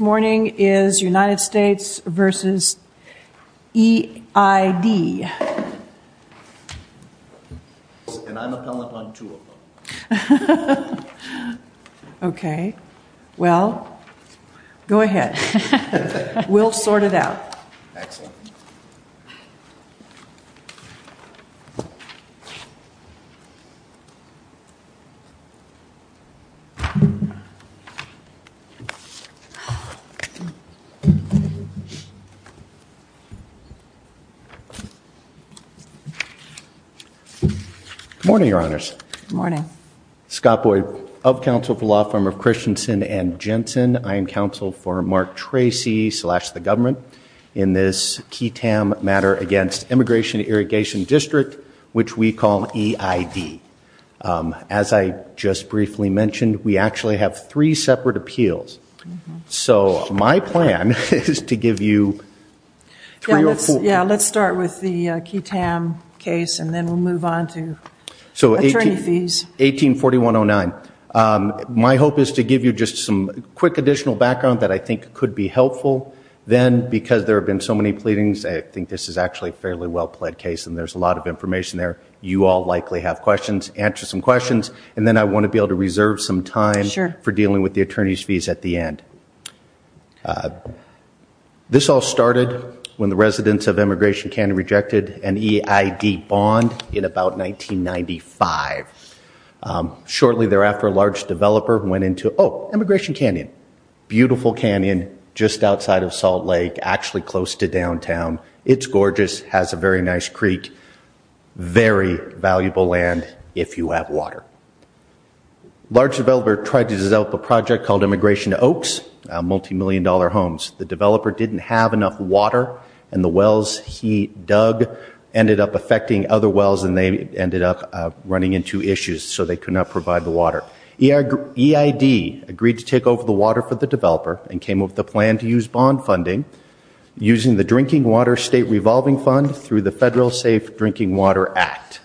morning is United States v. EID. Okay. Well, go ahead. We'll sort it out. Good morning, Your Honors. Good morning. Scott Boyd of Counsel for Lawfirm of Christensen and Jensen. I am counsel for Mark Tracy, slash, the government in this key TAM matter against Immigration Irrigation District, which we call EID. As I just briefly mentioned, we actually have three separate appeals. So my plan is to give you three or four. Yeah, let's start with the key TAM case and then we'll move on to attorney fees. 184109. My hope is to give you just some quick additional background that I think could be helpful. Then, because there have been so many pleadings, I think this is actually a fairly well-plead case and there's a lot of information there. You all likely have questions. Answer some questions and then I want to be able to reserve some time for dealing with the attorney's fees at the end. This all started when the residents of Immigration Canyon rejected an EID bond in about 1995. Shortly thereafter, a large developer went into, oh, Immigration Canyon, beautiful canyon just outside of Salt Lake, actually close to downtown. It's gorgeous, has a very nice creek, very valuable land if you have water. Large developer tried to develop a project called Immigration Oaks, multi-million dollar homes. The developer didn't have enough water and the wells he dug ended up affecting other wells and they ended up running into issues so they could not provide the water. EID agreed to take over the water for the developer and came up with a plan to use bond funding using the Drinking Water State Revolving Fund through the Federal Safe Drinking Water Act.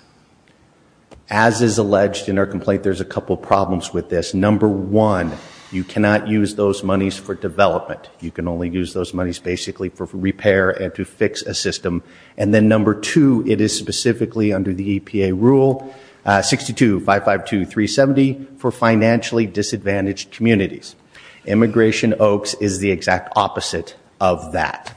As is alleged in our complaint, there's a couple problems with this. Number one, you cannot use those monies for development. You can only use those monies basically for repair and to fix a system. And then number two, it is specifically under the EPA rule, 62552370 for financially disadvantaged communities. Immigration Oaks is the exact opposite of that.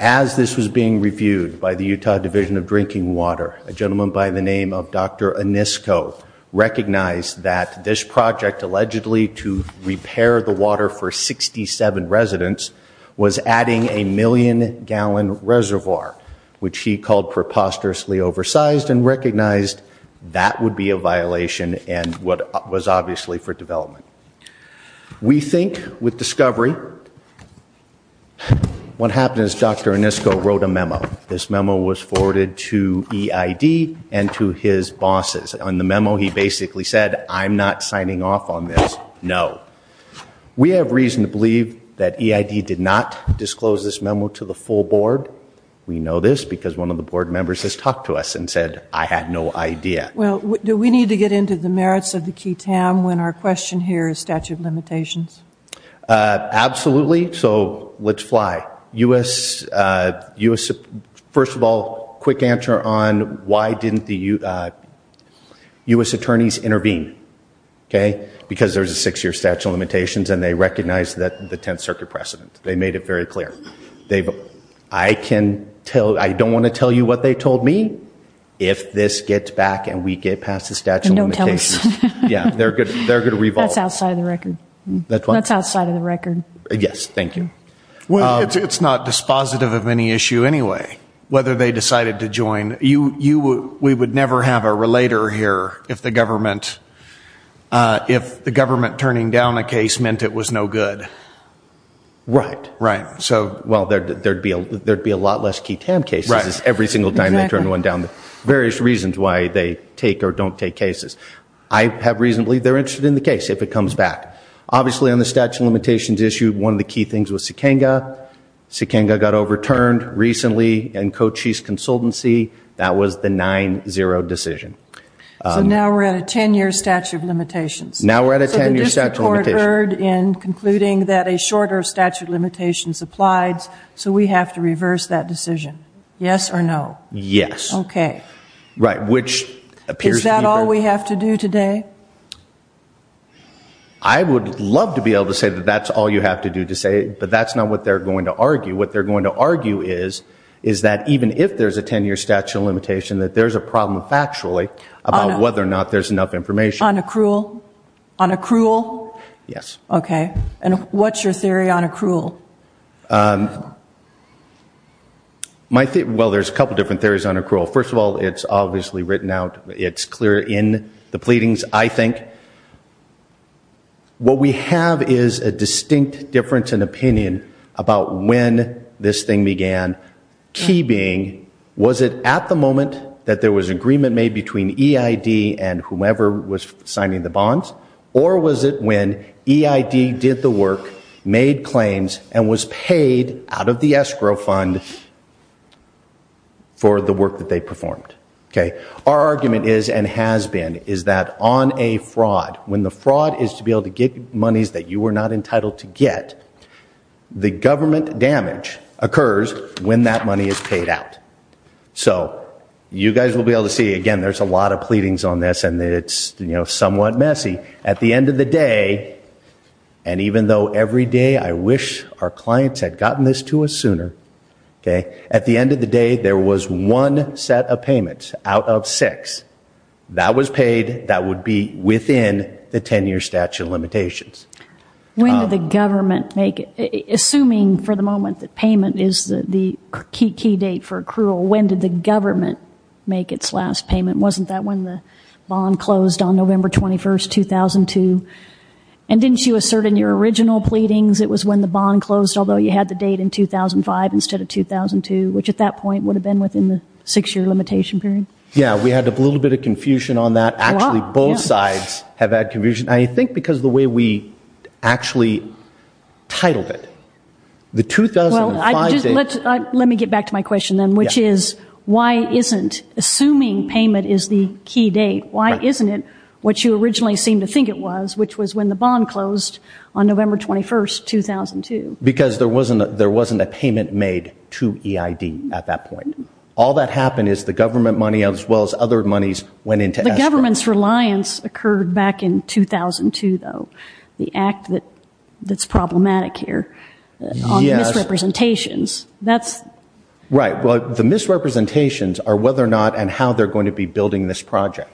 As this was being reviewed by the Utah Division of Drinking Water, a gentleman by the name of Dr. Anisko recognized that this project allegedly to repair the water for 67 residents was adding a million gallon reservoir, which he called preposterously oversized and recognized that would be a violation and what was obviously for development. We think with discovery, what happened is Dr. Anisko wrote a memo. This memo was forwarded to EID and to his bosses. On the memo he basically said, I'm not signing off on this, no. We have reason to believe that EID did not disclose this memo to the full board. We know this because one of the board members has talked to us and said, I had no idea. Well, do we need to get into the merits of the key town when our question here is statute of limitations? Absolutely. So let's fly. First of all, quick answer on why didn't the U.S. attorneys intervene? Because there's a six year statute of limitations and they recognize that the 10th Circuit precedent. They made it very clear. I don't want to tell you what they told me. If this gets back and we get past the statute of limitations, they're going to revolve. That's outside of the record. Yes, thank you. Well, it's not dispositive of any issue anyway, whether they decided to join. We would never have a relator here if the government turning down a case meant it was no good. Right. Right. Well, there'd be a lot less key town cases every single time they turn one down. Various reasons why they take or don't take cases. I have reason to believe they're interested in the case if it comes back. Obviously, on the statute of limitations issue, one of the key things was Sikenga. Sikenga got overturned recently in Cochise Consultancy. That was the 9-0 decision. So now we're at a 10 year statute of limitations. Now we're at a 10 year statute of limitations. So the district court heard in concluding that a shorter statute of limitations applied, so we have to reverse that decision. Yes or no? Yes. Okay. Right, which appears to be better. Is that all we have to do today? I would love to be able to say that that's all you have to do to say it, but that's not what they're going to argue. What they're going to argue is, is that even if there's a 10 year statute of limitation, that there's a problem factually about whether or not there's enough information. On accrual? On accrual? Yes. Okay. And what's your theory on accrual? Well, there's a couple different theories on accrual. First of all, it's obviously written out. It's clear in the pleadings. I think what we have is a distinct difference in opinion about when this thing began. Key being, was it at the moment that there was agreement made between EID and whomever was signing the bonds? Or was it when EID did the work, made claims, and was paid out of the escrow fund for the work that they performed? Our argument is, and has been, is that on a fraud, when the fraud is to be able to get monies that you were not entitled to get, the government damage occurs when that money is paid out. So, you guys will be able to see, again, there's a lot of pleadings on this, and it's somewhat messy. At the end of the day, and even though every day I wish our clients had gotten this to us sooner, at the end of the day, there was one set of payments out of six. That was paid. That would be within the 10-year statute of limitations. When did the government make it? Assuming, for the moment, that payment is the key date for accrual, when did the government make its last payment? Wasn't that when the bond closed on November 21st, 2002? And didn't you assert in your original pleadings it was when the bond closed, although you had the date in 2005 instead of 2002, which at that point would have been within the six-year limitation period? Yeah, we had a little bit of confusion on that. Actually, both sides have had confusion. I think because of the way we actually titled it. Well, let me get back to my question then, which is, why isn't, assuming payment is the key date, why isn't it what you originally seemed to think it was, which was when the bond closed on November 21st, 2002? Because there wasn't a payment made to EID at that point. All that happened is the government money, as well as other monies, went into escrow. The government's reliance occurred back in 2002, though, the act that's problematic here on the misrepresentations. Right. Well, the misrepresentations are whether or not and how they're going to be building this project.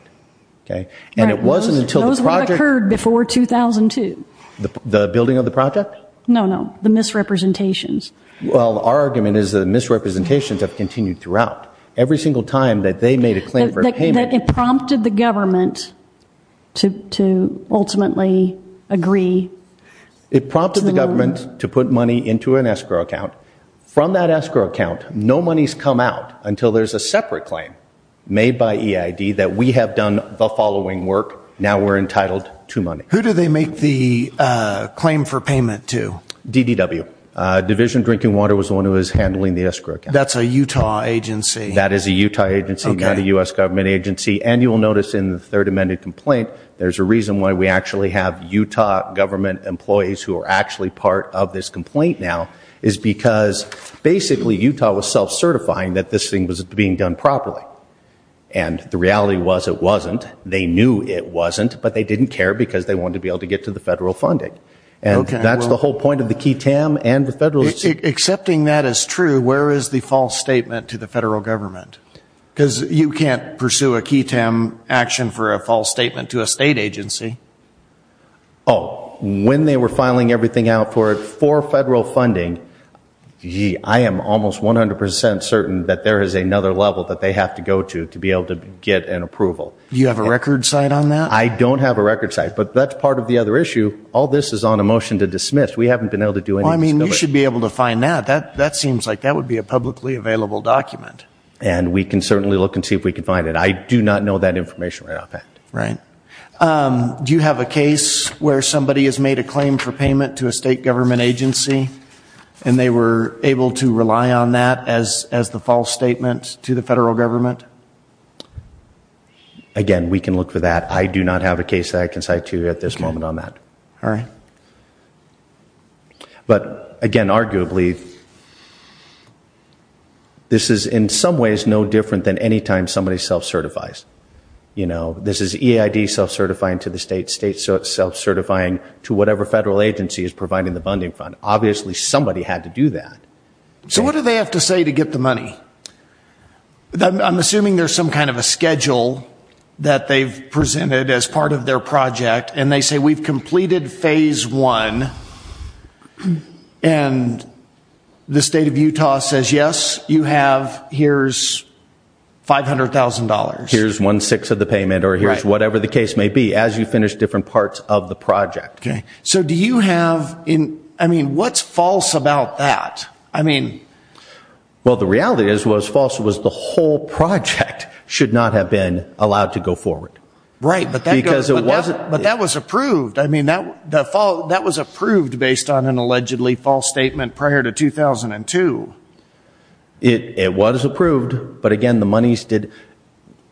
And it wasn't until the project – Those would have occurred before 2002. The building of the project? No, no, the misrepresentations. Well, our argument is the misrepresentations have continued throughout. Every single time that they made a claim for payment – But it prompted the government to ultimately agree to – It prompted the government to put money into an escrow account. From that escrow account, no monies come out until there's a separate claim made by EID that we have done the following work, now we're entitled to money. Who do they make the claim for payment to? DDW. Division of Drinking Water was the one who was handling the escrow account. That's a Utah agency. That is a Utah agency, not a U.S. government agency. And you will notice in the third amended complaint, there's a reason why we actually have Utah government employees who are actually part of this complaint now, is because basically Utah was self-certifying that this thing was being done properly. And the reality was it wasn't. They knew it wasn't, but they didn't care because they wanted to be able to get to the federal funding. And that's the whole point of the key TAM and the federal – Accepting that as true, where is the false statement to the federal government? Because you can't pursue a key TAM action for a false statement to a state agency. Oh, when they were filing everything out for it for federal funding, I am almost 100 percent certain that there is another level that they have to go to to be able to get an approval. Do you have a record site on that? I don't have a record site, but that's part of the other issue. All this is on a motion to dismiss. We haven't been able to do any – Well, I mean, you should be able to find that. That seems like that would be a publicly available document. And we can certainly look and see if we can find it. I do not know that information right off hand. Right. Do you have a case where somebody has made a claim for payment to a state government agency and they were able to rely on that as the false statement to the federal government? Again, we can look for that. I do not have a case that I can cite to you at this moment on that. All right. But, again, arguably, this is in some ways no different than any time somebody self-certifies. You know, this is EID self-certifying to the state, state self-certifying to whatever federal agency is providing the funding fund. Obviously somebody had to do that. So what do they have to say to get the money? I'm assuming there's some kind of a schedule that they've presented as part of their project and they say we've completed phase one. And the state of Utah says, yes, you have, here's $500,000. Here's one-sixth of the payment or here's whatever the case may be as you finish different parts of the project. Okay. So do you have, I mean, what's false about that? I mean. Well, the reality is what was false was the whole project should not have been allowed to go forward. Right. Because it wasn't. But that was approved. I mean, that was approved based on an allegedly false statement prior to 2002. It was approved, but, again, the monies did.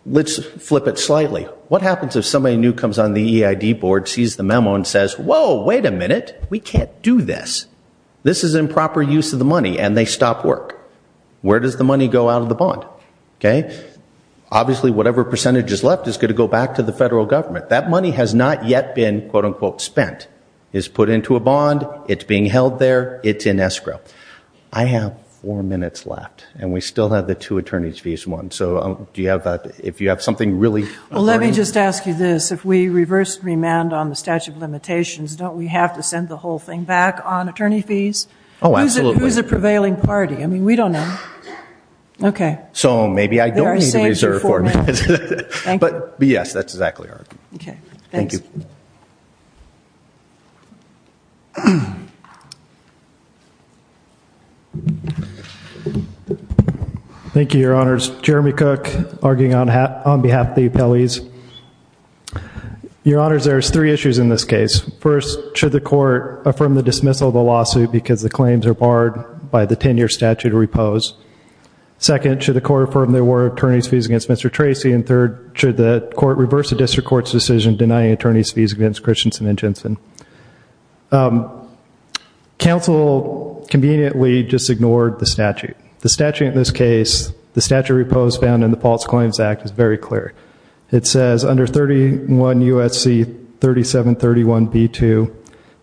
Let's flip it slightly. What happens if somebody new comes on the EID board, sees the memo, and says, whoa, wait a minute. We can't do this. This is improper use of the money, and they stop work. Where does the money go out of the bond? Okay. Obviously, whatever percentage is left is going to go back to the federal government. That money has not yet been, quote-unquote, spent. It's put into a bond. It's being held there. It's in escrow. I have four minutes left, and we still have the two attorney's fees, one. So do you have, if you have something really important. Well, let me just ask you this. If we reverse remand on the statute of limitations, don't we have to send the whole thing back on attorney fees? Oh, absolutely. Who's the prevailing party? I mean, we don't know. Okay. So maybe I don't need to reserve four minutes. Thank you. But, yes, that's exactly right. Okay. Thanks. Thank you. Thank you, Your Honors. Jeremy Cook, arguing on behalf of the appellees. Your Honors, there's three issues in this case. First, should the court affirm the dismissal of the lawsuit because the claims are barred by the 10-year statute or repose? Second, should the court affirm there were attorney's fees against Mr. Tracy? And third, should the court reverse the district court's decision denying attorney's fees against Christensen and Jensen? Counsel conveniently just ignored the statute. The statute in this case, the statute repose found in the False Claims Act is very clear. It says, under 31 U.S.C. 3731b2,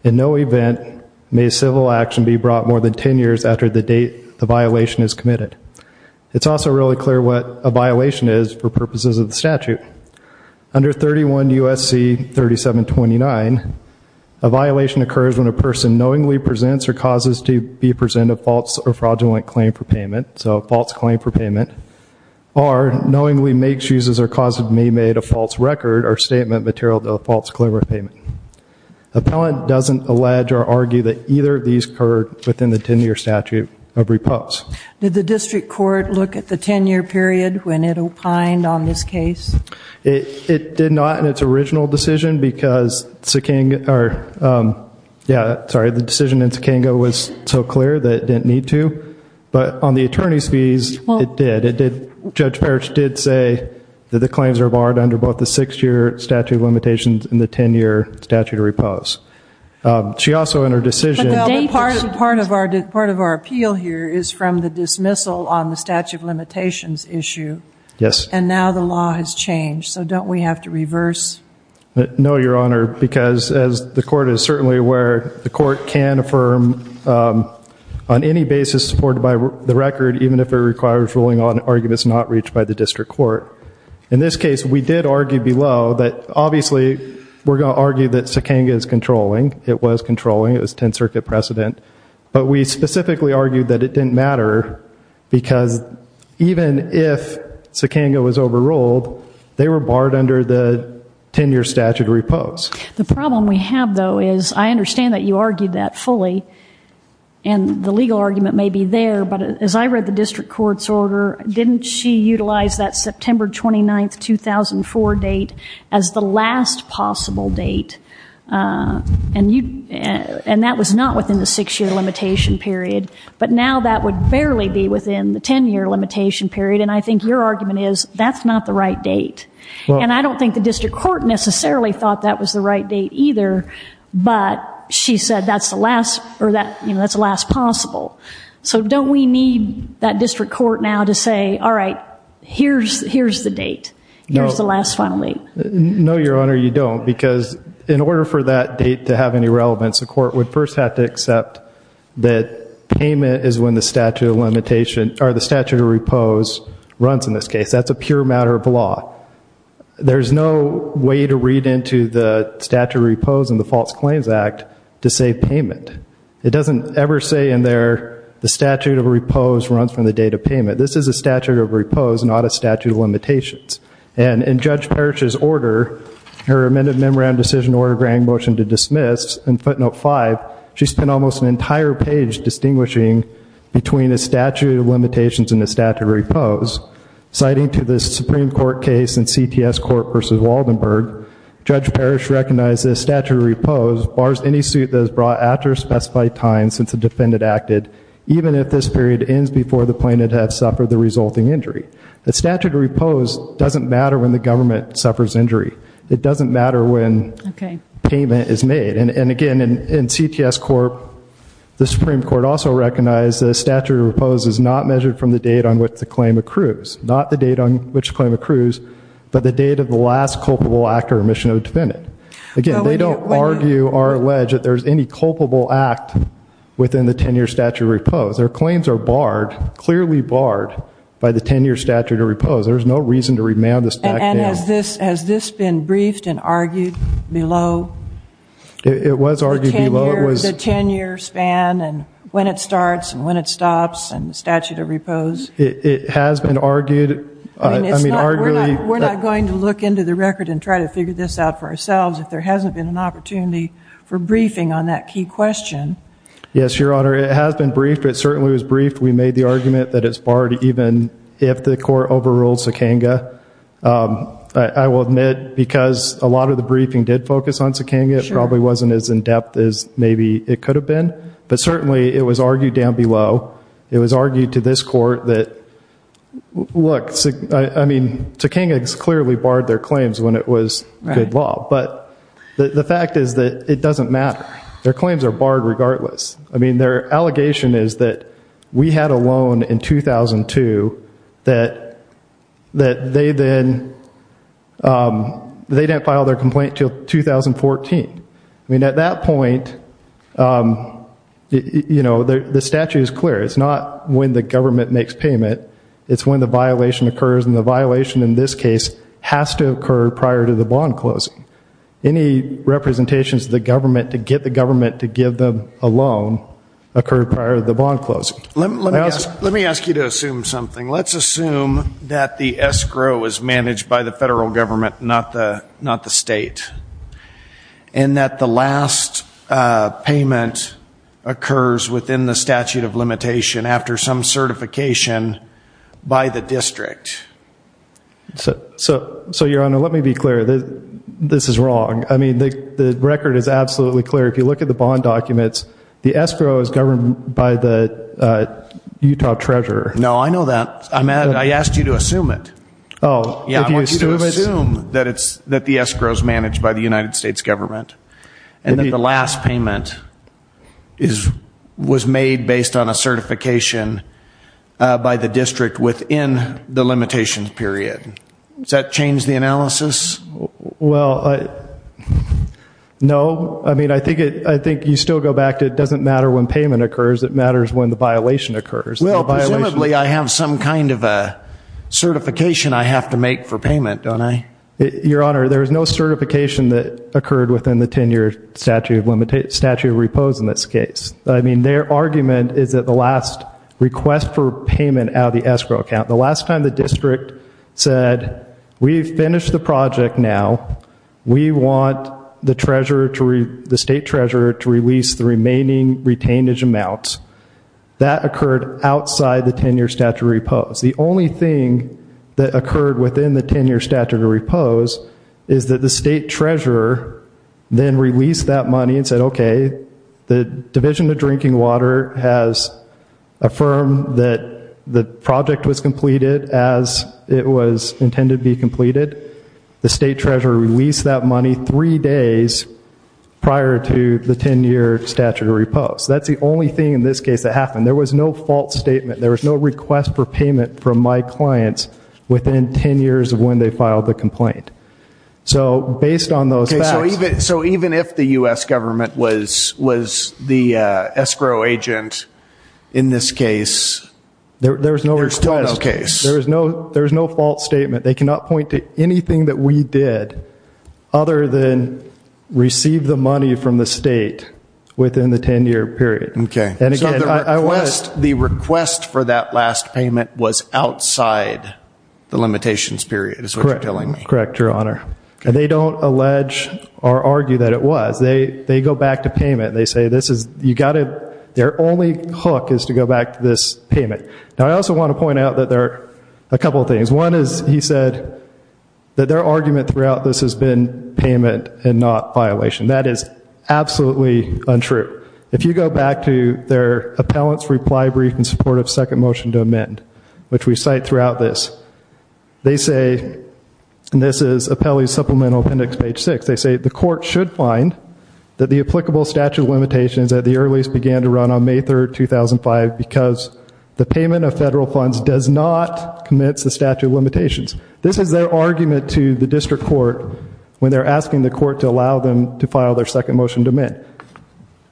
in no event may civil action be brought more than 10 years after the date the violation is committed. It's also really clear what a violation is for purposes of the statute. Under 31 U.S.C. 3729, a violation occurs when a person knowingly presents or causes to be present a false or fraudulent claim for payment, so a false claim for payment, or knowingly makes, uses, or causes to be made a false record or statement material to a false claim for payment. Appellant doesn't allege or argue that either of these occurred within the 10-year statute of repose. Did the district court look at the 10-year period when it opined on this case? It did not in its original decision because Sakango, or yeah, sorry, the decision in Sakango was so clear that it didn't need to. But on the attorney's fees, it did. Judge Parrish did say that the claims are barred under both the six-year statute of limitations and the 10-year statute of repose. She also, in her decision- Part of our appeal here is from the dismissal on the statute of limitations issue. Yes. And now the law has changed, so don't we have to reverse? No, Your Honor, because as the court is certainly aware, the court can affirm on any basis supported by the record, even if it requires ruling on arguments not reached by the district court. In this case, we did argue below that, obviously, we're going to argue that Sakango is controlling. It was controlling. It was 10th Circuit precedent. But we specifically argued that it didn't matter because even if Sakango was overruled, they were barred under the 10-year statute of repose. The problem we have, though, is I understand that you argued that fully, and the legal argument may be there, but as I read the district court's order, didn't she utilize that September 29, 2004 date as the last possible date? And that was not within the six-year limitation period, but now that would barely be within the 10-year limitation period, and I think your argument is that's not the right date. And I don't think the district court necessarily thought that was the right date either, but she said that's the last possible. So don't we need that district court now to say, all right, here's the date, here's the last final date? No, Your Honor, you don't, because in order for that date to have any relevance, the court would first have to accept that payment is when the statute of repose runs in this case. That's a pure matter of law. There's no way to read into the statute of repose in the False Claims Act to say payment. It doesn't ever say in there the statute of repose runs from the date of payment. This is a statute of repose, not a statute of limitations. And in Judge Parrish's order, her amended Memorandum of Decision ordering motion to dismiss, in footnote 5, she spent almost an entire page distinguishing between a statute of limitations and a statute of repose. Citing to the Supreme Court case in CTS Court v. Waldenburg, Judge Parrish recognized that a statute of repose bars any suit that is brought after a specified time since the defendant acted, even if this period ends before the plaintiff has suffered the resulting injury. A statute of repose doesn't matter when the government suffers injury. It doesn't matter when payment is made. And again, in CTS Court, the Supreme Court also recognized that a statute of repose is not measured from the date on which the claim accrues. Not the date on which the claim accrues, but the date of the last culpable act or omission of the defendant. Again, they don't argue or allege that there's any culpable act within the 10-year statute of repose. Their claims are barred, clearly barred, by the 10-year statute of repose. There's no reason to remand this back down. And has this been briefed and argued below? It was argued below. The 10-year span and when it starts and when it stops and the statute of repose? It has been argued. We're not going to look into the record and try to figure this out for ourselves if there hasn't been an opportunity for briefing on that key question. Yes, Your Honor. It has been briefed. It certainly was briefed. We made the argument that it's barred even if the court overruled Sakanga. I will admit, because a lot of the briefing did focus on Sakanga, it probably wasn't as in-depth as maybe it could have been. But certainly, it was argued down below. It was argued to this court that, look, I mean, Sakanga clearly barred their claims when it was good law. But the fact is that it doesn't matter. Their claims are barred regardless. I mean, their allegation is that we had a loan in 2002 that they didn't file their complaint until 2014. I mean, at that point, you know, the statute is clear. It's not when the government makes payment. It's when the violation occurs. And the violation in this case has to occur prior to the bond closing. Any representations to the government to get the government to give them a loan occur prior to the bond closing. Let me ask you to assume something. Let's assume that the escrow is managed by the federal government, not the state, and that the last payment occurs within the statute of limitation after some certification by the district. So, Your Honor, let me be clear. This is wrong. I mean, the record is absolutely clear. If you look at the bond documents, the escrow is governed by the Utah Treasurer. No, I know that. I asked you to assume it. Oh. I want you to assume that the escrow is managed by the United States government and that the last payment was made based on a certification by the district within the limitation period. Does that change the analysis? Well, no. I mean, I think you still go back to it doesn't matter when payment occurs. It matters when the violation occurs. Well, presumably I have some kind of a certification I have to make for payment, don't I? Your Honor, there is no certification that occurred within the 10-year statute of repose in this case. I mean, their argument is that the last request for payment out of the escrow account, the last time the district said, we've finished the project now. We want the state treasurer to release the remaining retainage amounts. That occurred outside the 10-year statute of repose. The only thing that occurred within the 10-year statute of repose is that the state treasurer then released that money and said, okay, the Division of Drinking Water has affirmed that the project was completed as it was intended to be completed. The state treasurer released that money three days prior to the 10-year statute of repose. That's the only thing in this case that happened. There was no false statement. There was no request for payment from my clients within 10 years of when they filed the complaint. So based on those facts. So even if the U.S. government was the escrow agent in this case, there's still no case. There's no false statement. They cannot point to anything that we did other than receive the money from the state within the 10-year period. Okay. And again, I was. So the request for that last payment was outside the limitations period is what you're telling me. Correct, Your Honor. And they don't allege or argue that it was. They go back to payment. They say this is, you got to, their only hook is to go back to this payment. Now, I also want to point out that there are a couple of things. One is, he said, that their argument throughout this has been payment and not violation. That is absolutely untrue. If you go back to their appellant's reply brief in support of second motion to amend, which we cite throughout this, they say, and this is appellee's supplemental appendix page 6, they say the court should find that the applicable statute of limitations at the earliest began to run on May 3, 2005 because the payment of federal funds does not commit to statute of limitations. This is their argument to the district court when they're asking the court to allow them to file their second motion to amend.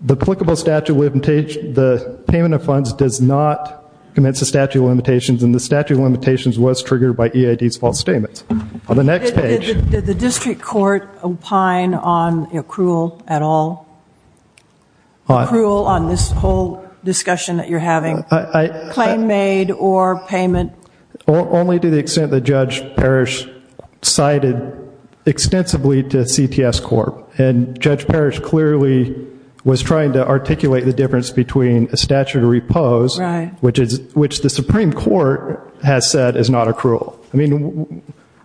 The applicable statute of limitations, the payment of funds does not commit to statute of limitations, and the statute of limitations was triggered by EID's false statements. On the next page. Did the district court opine on accrual at all? Accrual on this whole discussion that you're having? Claim made or payment? Only to the extent that Judge Parrish cited extensively to CTS Corp. And Judge Parrish clearly was trying to articulate the difference between a statute of repose, which the Supreme Court has said is not accrual. I mean,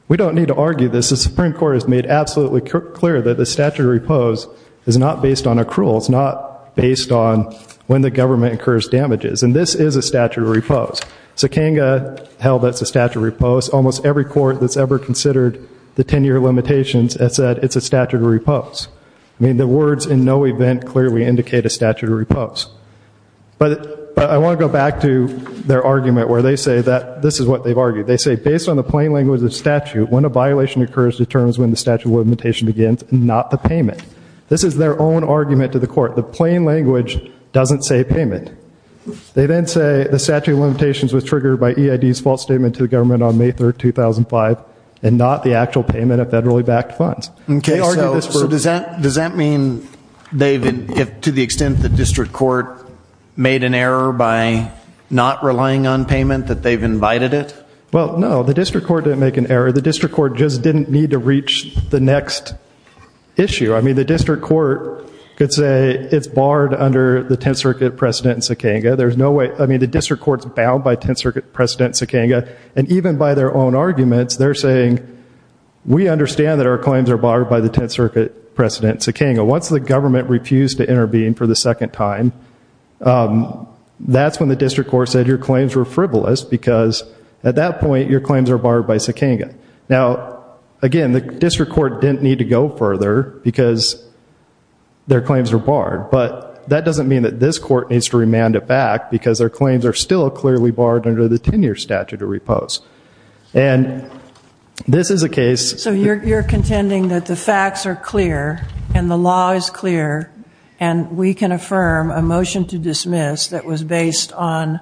we don't need to argue this. The Supreme Court has made absolutely clear that the statute of repose is not based on accrual. It's not based on when the government incurs damages. And this is a statute of repose. Sakanga held that it's a statute of repose. Almost every court that's ever considered the 10-year limitations has said it's a statute of repose. I mean, the words in no event clearly indicate a statute of repose. But I want to go back to their argument where they say that this is what they've argued. They say based on the plain language of the statute, when a violation occurs determines when the statute of limitation begins, not the payment. This is their own argument to the court. The plain language doesn't say payment. They then say the statute of limitations was triggered by EID's false statement to the government on May 3, 2005, and not the actual payment of federally backed funds. So does that mean, David, to the extent the district court made an error by not relying on payment, that they've invited it? Well, no. The district court didn't make an error. The district court just didn't need to reach the next issue. I mean, the district court could say it's barred under the 10th Circuit precedent in Sakanga. There's no way. I mean, the district court's bound by 10th Circuit precedent in Sakanga. And even by their own arguments, they're saying we understand that our claims are barred by the 10th Circuit precedent in Sakanga. Once the government refused to intervene for the second time, that's when the district court said your claims were frivolous because at that point your claims are barred by Sakanga. Now, again, the district court didn't need to go further because their claims were barred. But that doesn't mean that this court needs to remand it back because their claims are still clearly barred under the 10-year statute of repose. And this is a case. So you're contending that the facts are clear and the law is clear and we can affirm a motion to dismiss that was based on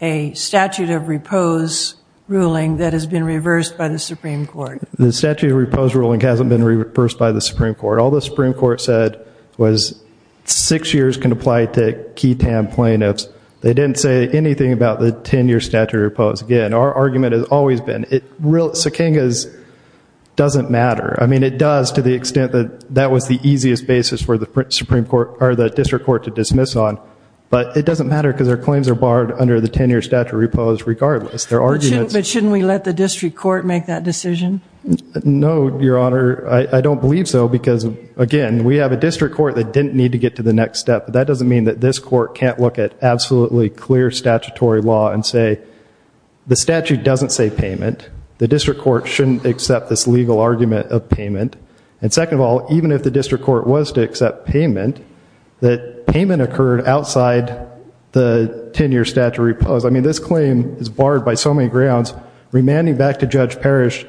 a statute of repose ruling that has been reversed by the Supreme Court? The statute of repose ruling hasn't been reversed by the Supreme Court. All the Supreme Court said was six years can apply to key TAM plaintiffs. They didn't say anything about the 10-year statute of repose. Again, our argument has always been Sakanga doesn't matter. I mean, it does to the extent that that was the easiest basis for the district court to dismiss on. But it doesn't matter because their claims are barred under the 10-year statute of repose regardless. But shouldn't we let the district court make that decision? No, Your Honor. I don't believe so because, again, we have a district court that didn't need to get to the next step. But that doesn't mean that this court can't look at absolutely clear statutory law and say the statute doesn't say payment. The district court shouldn't accept this legal argument of payment. And second of all, even if the district court was to accept payment, that payment occurred outside the 10-year statute of repose. I mean, this claim is barred by so many grounds. Remanding back to Judge Parrish,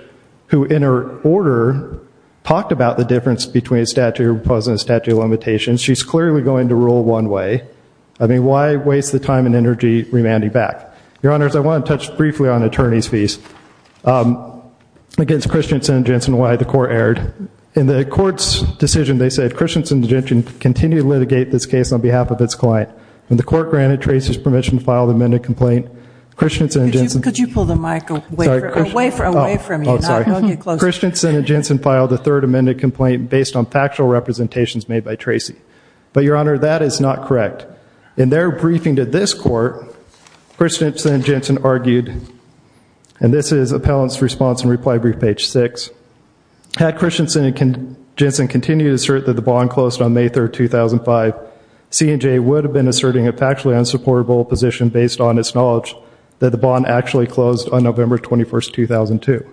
who in her order talked about the difference between a statute of repose and a statute of limitations, she's clearly going to rule one way. I mean, why waste the time and energy remanding back? Your Honors, I want to touch briefly on attorney's fees against Christensen and Jensen why the court erred. In the court's decision, they said Christensen and Jensen continue to litigate this case on behalf of its client. When the court granted Tracy's permission to file the amended complaint, Christensen and Jensen filed a third amended complaint based on factual representations made by Tracy. But, Your Honor, that is not correct. In their briefing to this court, Christensen and Jensen argued, and this is appellant's response in reply brief page 6, had Christensen and Jensen continued to assert that the bond closed on May 3, 2005, C&J would have been asserting a factually unsupportable position based on its knowledge that the bond actually closed on November 21, 2002.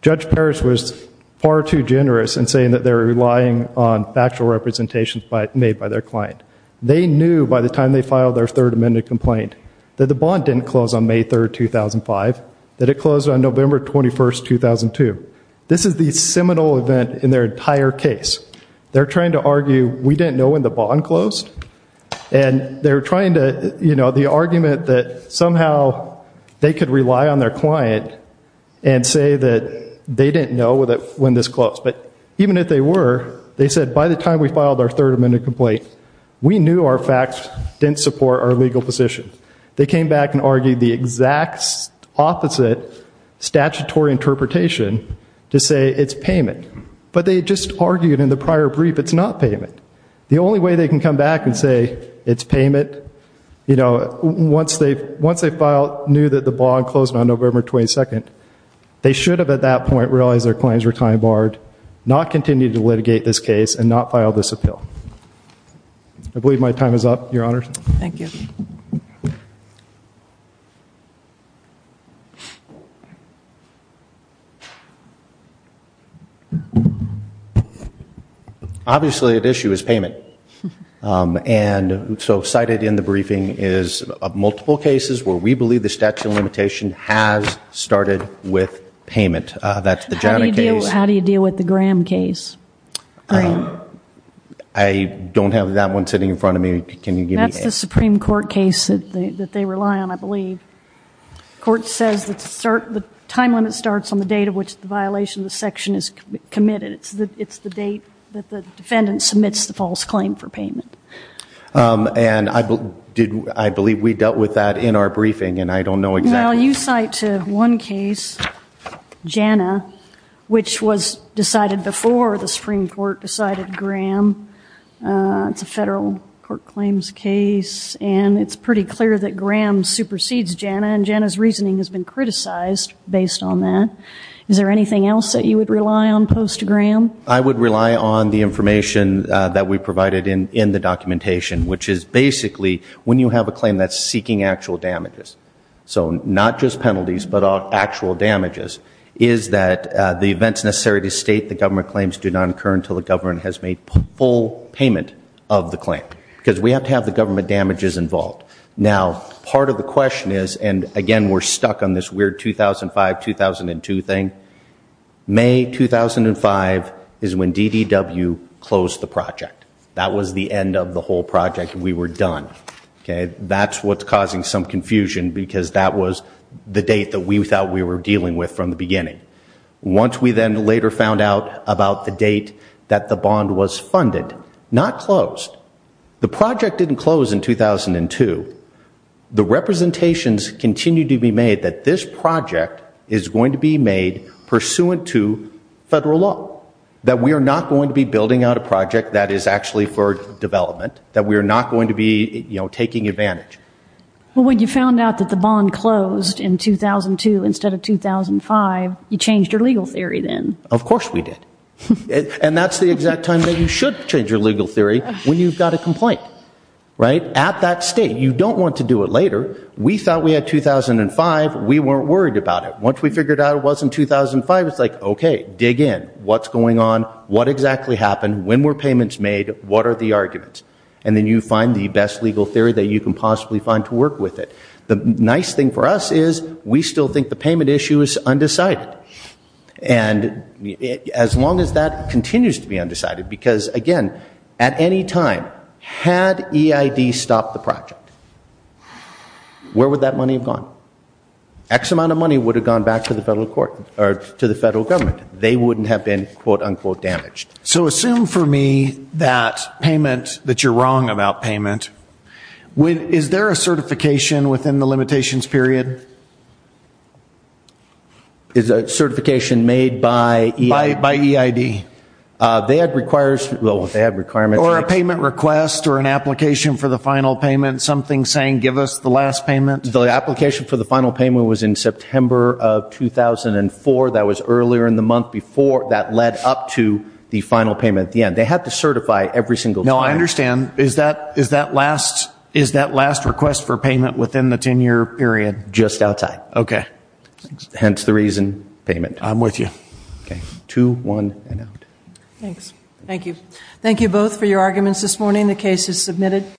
Judge Parrish was far too generous in saying that they were relying on factual representations made by their client. They knew by the time they filed their third amended complaint that the bond didn't close on May 3, 2005, that it closed on November 21, 2002. This is the seminal event in their entire case. They're trying to argue we didn't know when the bond closed, and they're trying to, you know, the argument that somehow they could rely on their client and say that they didn't know when this closed. But even if they were, they said by the time we filed our third amended complaint, we knew our facts didn't support our legal position. They came back and argued the exact opposite statutory interpretation to say it's payment. But they just argued in the prior brief it's not payment. The only way they can come back and say it's payment, you know, once they filed, knew that the bond closed on November 22, they should have at that point realized their claims were time barred, not continued to litigate this case, and not filed this appeal. I believe my time is up, Your Honor. Thank you. Obviously at issue is payment. And so cited in the briefing is multiple cases where we believe the statute of limitation has started with payment. That's the Janet case. How do you deal with the Graham case? I don't have that one sitting in front of me. Can you give me that? That's the Supreme Court case that they rely on, I believe. The court says the time limit starts on the date of which the violation of the section is committed. It's the date that the defendant submits the false claim for payment. And I believe we dealt with that in our briefing, and I don't know exactly. Well, you cite one case, Janna, which was decided before the Supreme Court decided Graham. It's a federal court claims case, and it's pretty clear that Graham supersedes Janna, and Janna's reasoning has been criticized based on that. Is there anything else that you would rely on post-Graham? I would rely on the information that we provided in the documentation, which is basically when you have a claim that's seeking actual damages, so not just penalties but actual damages, is that the events necessary to state the government claims do not occur until the government has made full payment of the claim. Because we have to have the government damages involved. Now, part of the question is, and, again, we're stuck on this weird 2005-2002 thing, May 2005 is when DDW closed the project. That was the end of the whole project. We were done. That's what's causing some confusion because that was the date that we thought we were dealing with from the beginning. Once we then later found out about the date that the bond was funded, not closed, the project didn't close in 2002. The representations continue to be made that this project is going to be made pursuant to federal law, that we are not going to be building out a project that is actually for development, that we are not going to be taking advantage. Well, when you found out that the bond closed in 2002 instead of 2005, you changed your legal theory then. Of course we did. And that's the exact time that you should change your legal theory when you've got a complaint. At that state, you don't want to do it later. We thought we had 2005. We weren't worried about it. Once we figured out it wasn't 2005, it's like, okay, dig in. What's going on? What exactly happened? When were payments made? What are the arguments? And then you find the best legal theory that you can possibly find to work with it. The nice thing for us is we still think the payment issue is undecided. And as long as that continues to be undecided, because, again, at any time, had EID stopped the project, where would that money have gone? X amount of money would have gone back to the federal government. They wouldn't have been, quote, unquote, damaged. So assume for me that payment, that you're wrong about payment. Is there a certification within the limitations period? Is a certification made by EID? They had requirements. Or a payment request or an application for the final payment, something saying give us the last payment? The application for the final payment was in September of 2004. That was earlier in the month before that led up to the final payment at the end. They had to certify every single time. No, I understand. Is that last request for payment within the 10-year period? Just outside. Okay. Hence the reason, payment. I'm with you. Okay. Two, one, and out. Thanks. Thank you. Thank you both for your arguments this morning. The case is submitted.